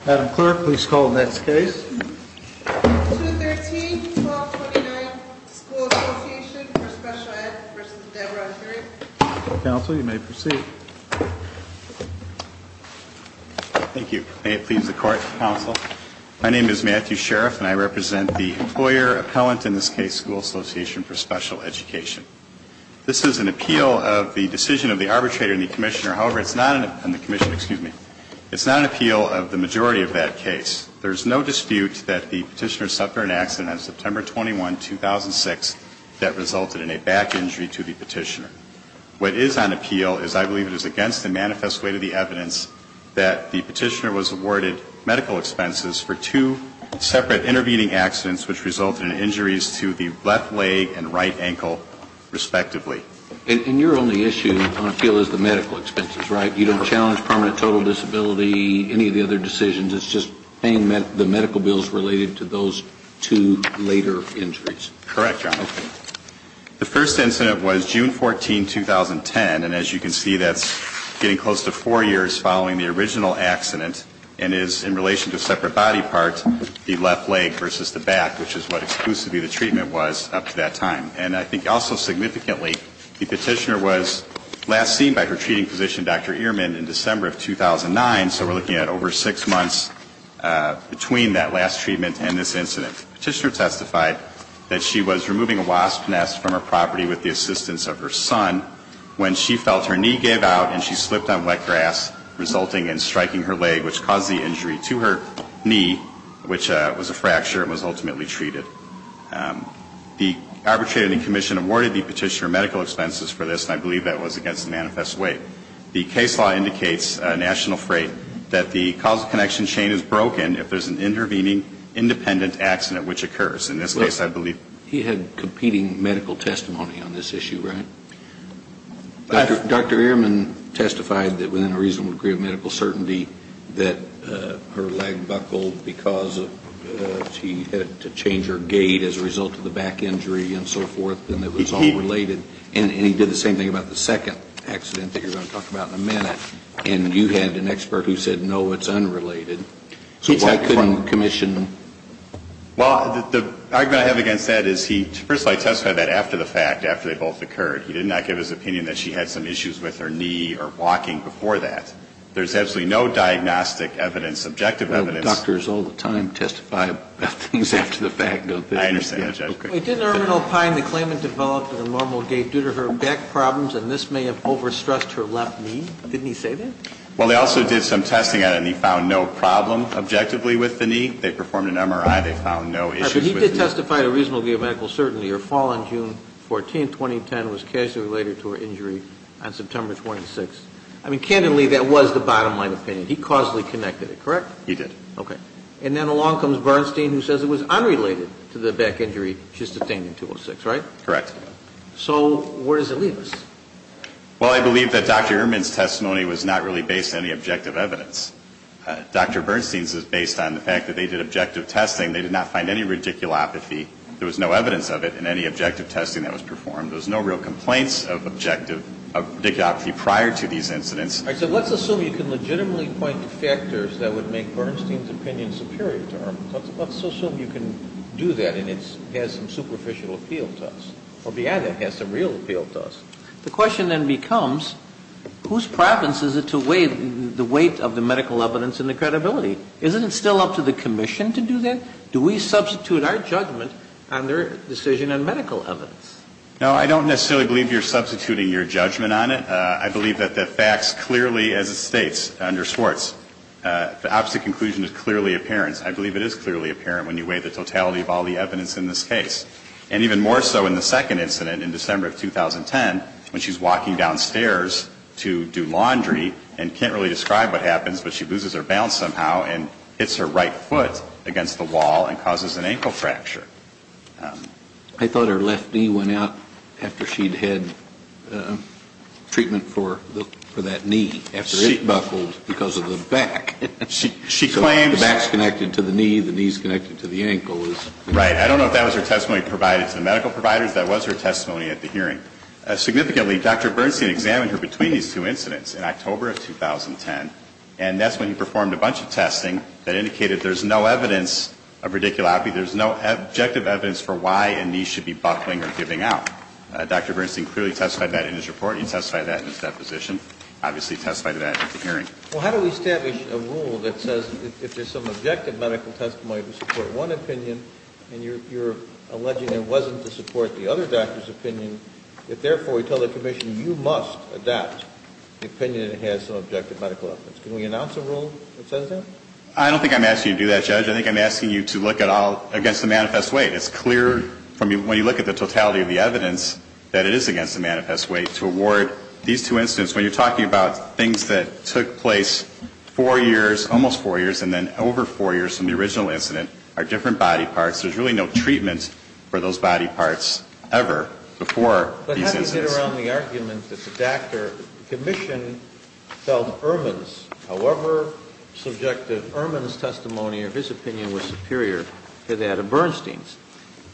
Adam Clerk, please call the next case. 213-1229, School Association for Special Ed v. Deborah Herrick. Counsel, you may proceed. Thank you. May it please the Court, Counsel. My name is Matthew Sheriff, and I represent the employer appellant, in this case, School Association for Special Education. This is an appeal of the decision of the arbitrator and the commissioner. However, it's not an appeal of the majority of that case. There is no dispute that the petitioner suffered an accident on September 21, 2006, that resulted in a back injury to the petitioner. What is on appeal is, I believe it is against the manifest weight of the evidence, that the petitioner was awarded medical expenses for two separate intervening accidents, which resulted in injuries to the left leg and right ankle, respectively. And your only issue on appeal is the medical expenses, right? You don't challenge permanent total disability, any of the other decisions, it's just paying the medical bills related to those two later injuries. Correct, Your Honor. The first incident was June 14, 2010, and as you can see, that's getting close to four years following the original accident, and is in relation to separate body parts, the left leg versus the back, which is what exclusively the treatment was up to that time. And I think also significantly, the petitioner was last seen by her treating physician, Dr. Ehrman, in December of 2009, so we're looking at over six months between that last treatment and this incident. The petitioner testified that she was removing a wasp nest from her property with the assistance of her son, when she felt her knee gave out and she slipped on wet grass, resulting in striking her leg, which caused the injury to her knee, which was a fracture and was ultimately treated. The arbitrator and the commission awarded the petitioner medical expenses for this, and I believe that was against the manifest way. The case law indicates, National Freight, that the causal connection chain is broken if there's an intervening independent accident which occurs. In this case, I believe he had competing medical testimony on this issue, right? Dr. Ehrman testified that within a reasonable degree of medical certainty, that her leg buckled because she had to change her gait as a result of the back injury and so forth, and it was all related. And he did the same thing about the second accident that you're going to talk about in a minute. And you had an expert who said, no, it's unrelated. So why couldn't the commission? Well, the argument I have against that is he, first of all, he testified that after the fact, after they both occurred, he did not give his opinion that she had some issues with her knee or walking before that. There's absolutely no diagnostic evidence, subjective evidence. Well, doctors all the time testify about things after the fact, don't they? I understand that, Judge. Didn't Ehrman opine the claimant developed an abnormal gait due to her back problems, and this may have overstressed her left knee? Didn't he say that? Well, they also did some testing on it, and he found no problem objectively with the knee. They performed an MRI. They found no issues with the knee. All right, but he did testify to reasonable degree of medical certainty. Her fall on June 14, 2010, was casually related to her injury on September 26. I mean, candidly, that was the bottom line opinion. He causally connected it, correct? He did. Okay. And then along comes Bernstein, who says it was unrelated to the back injury she sustained on 206, right? Correct. So where does it leave us? Well, I believe that Dr. Ehrman's testimony was not really based on any objective evidence. Dr. Bernstein's is based on the fact that they did objective testing. They did not find any radiculopathy. There was no evidence of it in any objective testing that was performed. There was no real complaints of objective, of radiculopathy prior to these incidents. All right, so let's assume you can legitimately point to factors that would make Bernstein's opinion superior to her. Let's assume you can do that, and it has some superficial appeal to us. Or beyond that, it has some real appeal to us. The question then becomes, whose province is it to weigh the weight of the medical evidence and the credibility? Isn't it still up to the commission to do that? Do we substitute our judgment on their decision on medical evidence? No, I don't necessarily believe you're substituting your judgment on it. I believe that the facts clearly, as it states under Swartz, the opposite conclusion is clearly apparent. I believe it is clearly apparent when you weigh the totality of all the evidence in this case. And even more so in the second incident in December of 2010, when she's walking downstairs to do laundry and can't really describe what happens, but she loses her balance somehow and hits her right foot against the wall and causes an ankle fracture. I thought her left knee went out after she'd had treatment for that knee, after it buckled because of the back. She claims the back's connected to the knee, the knee's connected to the ankle. Right. I don't know if that was her testimony provided to the medical providers. That was her testimony at the hearing. Significantly, Dr. Bernstein examined her between these two incidents in October of 2010, and that's when he performed a bunch of testing that indicated there's no evidence of radiculopathy, there's no objective evidence for why a knee should be buckling or giving out. Dr. Bernstein clearly testified that in his report. He testified that in his deposition, obviously testified to that at the hearing. Well, how do we establish a rule that says if there's some objective medical testimony to support one opinion and you're alleging it wasn't to support the other doctor's opinion, if therefore we tell the commission you must adopt the opinion that it has some objective medical evidence? Can we announce a rule that says that? I don't think I'm asking you to do that, Judge. I think I'm asking you to look at all against the manifest weight. It's clear from when you look at the totality of the evidence that it is against the manifest weight to award these two incidents. When you're talking about things that took place four years, almost four years, and then over four years from the original incident are different body parts, there's really no treatment for those body parts ever before these incidents. But how do you get around the argument that the doctor, the commission, felt Ehrman's, however subjective, Ehrman's testimony or his opinion was superior to that of Bernstein's?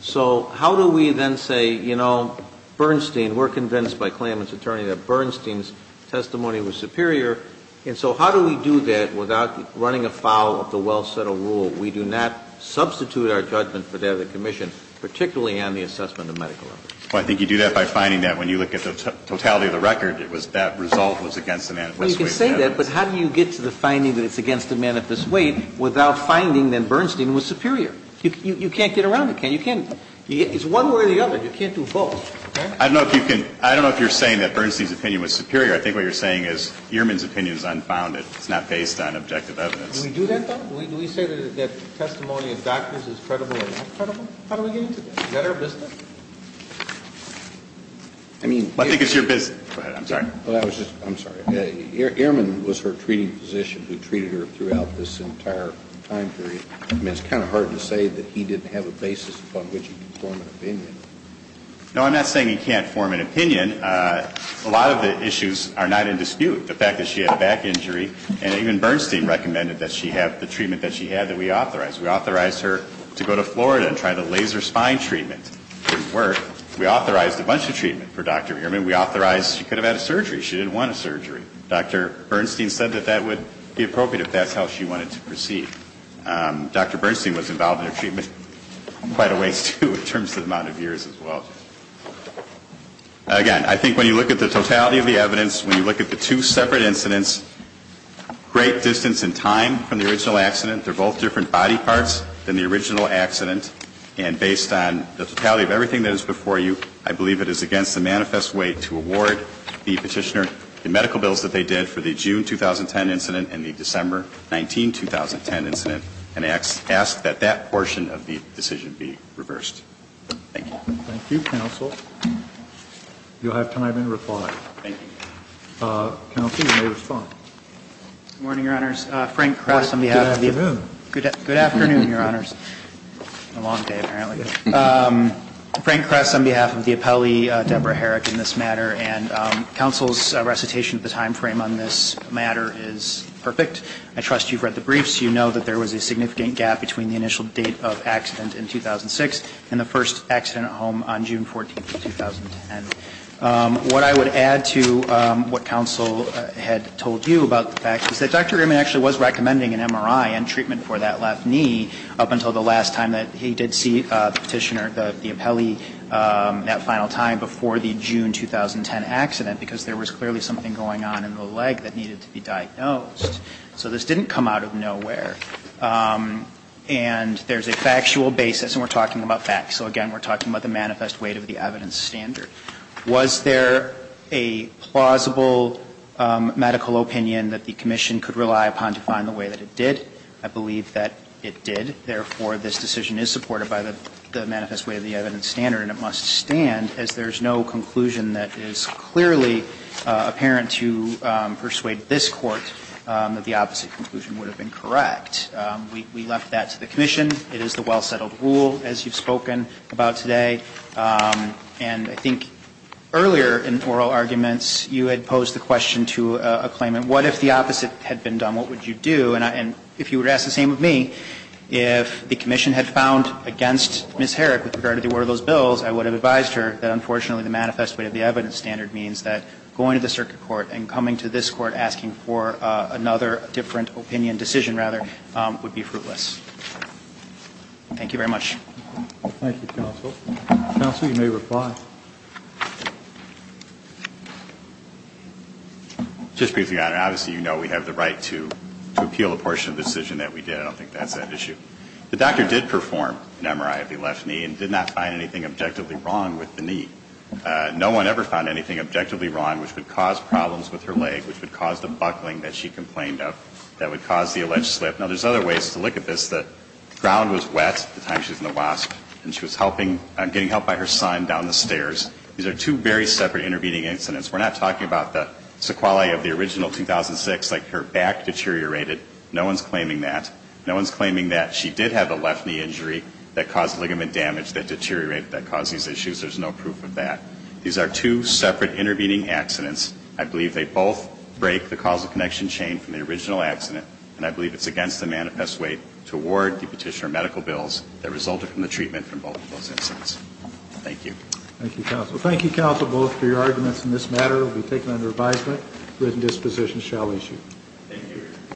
So how do we then say, you know, Bernstein, we're convinced by Klaman's attorney that Bernstein's testimony was superior, and so how do we do that without running afoul of the well-settled rule? We do not substitute our judgment for that of the commission, particularly on the assessment of medical evidence. Well, I think you do that by finding that when you look at the totality of the record, it was that result was against the manifest weight. Well, you can say that, but how do you get to the finding that it's against the manifest weight without finding that Bernstein was superior? You can't get around it. You can't. It's one way or the other. You can't do both. I don't know if you can. I don't know if you're saying that Bernstein's opinion was superior. I think what you're saying is Ehrman's opinion is unfounded. It's not based on objective evidence. Do we do that, though? Do we say that testimony of doctors is credible or not credible? How do we get into that? Is that our business? I think it's your business. Go ahead. I'm sorry. I'm sorry. Ehrman was her treating physician who treated her throughout this entire time period. I mean, it's kind of hard to say that he didn't have a basis upon which he could form an opinion. No, I'm not saying he can't form an opinion. A lot of the issues are not in dispute, the fact that she had a back injury, and even Bernstein recommended that she have the treatment that she had that we authorized. We authorized her to go to Florida and try the laser spine treatment. It didn't work. We authorized a bunch of treatment for Dr. Ehrman. We authorized she could have had a surgery. She didn't want a surgery. Dr. Bernstein said that that would be appropriate if that's how she wanted to proceed. Dr. Bernstein was involved in her treatment quite a ways, too, in terms of the amount of years as well. Again, I think when you look at the totality of the evidence, when you look at the two separate incidents, great distance in time from the original accident. They're both different body parts than the original accident. And based on the totality of everything that is before you, I believe it is against the manifest way to award the Petitioner the medical bills that they did for the June 2010 incident and the December 19, 2010 incident, and ask that that portion of the decision be reversed. Thank you. Thank you, counsel. You'll have time to reply. Thank you. Counsel, you may respond. Good morning, Your Honors. Frank Cross on behalf of the Court. Good afternoon. Good afternoon, Your Honors. It's been a long day, apparently. Frank Cross on behalf of the appellee, Deborah Herrick, in this matter. And counsel's recitation of the timeframe on this matter is perfect. I trust you've read the briefs. You know that there was a significant gap between the initial date of accident in 2006 and the first accident at home on June 14, 2010. What I would add to what counsel had told you about the fact is that Dr. Grimman actually was recommending an MRI and treatment for that left knee up until the last time that he did see the Petitioner, the appellee, that final time before the June 2010 accident, because there was clearly something going on in the leg that needed to be diagnosed. So this didn't come out of nowhere. And there's a factual basis, and we're talking about facts. So, again, we're talking about the manifest weight of the evidence standard. Was there a plausible medical opinion that the Commission could rely upon to find the way that it did? I believe that it did. Therefore, this decision is supported by the manifest weight of the evidence standard, and it must stand, as there's no conclusion that is clearly apparent to persuade this Court that the opposite conclusion would have been correct. We left that to the Commission. It is the well-settled rule, as you've spoken about today. And I think earlier in oral arguments, you had posed the question to a claimant, what if the opposite had been done? What would you do? And if you would ask the same of me, if the Commission had found against Ms. Herrick with regard to the order of those bills, I would have advised her that, unfortunately, the manifest weight of the evidence standard means that going to the circuit court and coming to this Court asking for another different opinion decision, rather, would be fruitless. Thank you very much. Thank you, counsel. Counsel, you may reply. Just briefly, Your Honor. Obviously, you know we have the right to appeal a portion of the decision that we did. I don't think that's an issue. The doctor did perform an MRI of the left knee and did not find anything objectively wrong with the knee. No one ever found anything objectively wrong which would cause problems with her leg, which would cause the buckling that she complained of, that would cause the alleged slip. Now, there's other ways to look at this. The ground was wet at the time she was in the WASP and she was getting help by her son down the stairs. These are two very separate intervening incidents. We're not talking about the sequelae of the original 2006, like her back deteriorated. No one's claiming that. No one's claiming that she did have a left knee injury that caused ligament damage that deteriorated that caused these issues. There's no proof of that. These are two separate intervening accidents. I believe they both break the causal connection chain from the original accident and I believe it's against the manifest way to award the petitioner medical bills that resulted from the treatment from both of those incidents. Thank you. Thank you, counsel. Thank you, counsel, both for your arguments in this matter. It will be taken under advisement. Written dispositions shall issue. Thank you.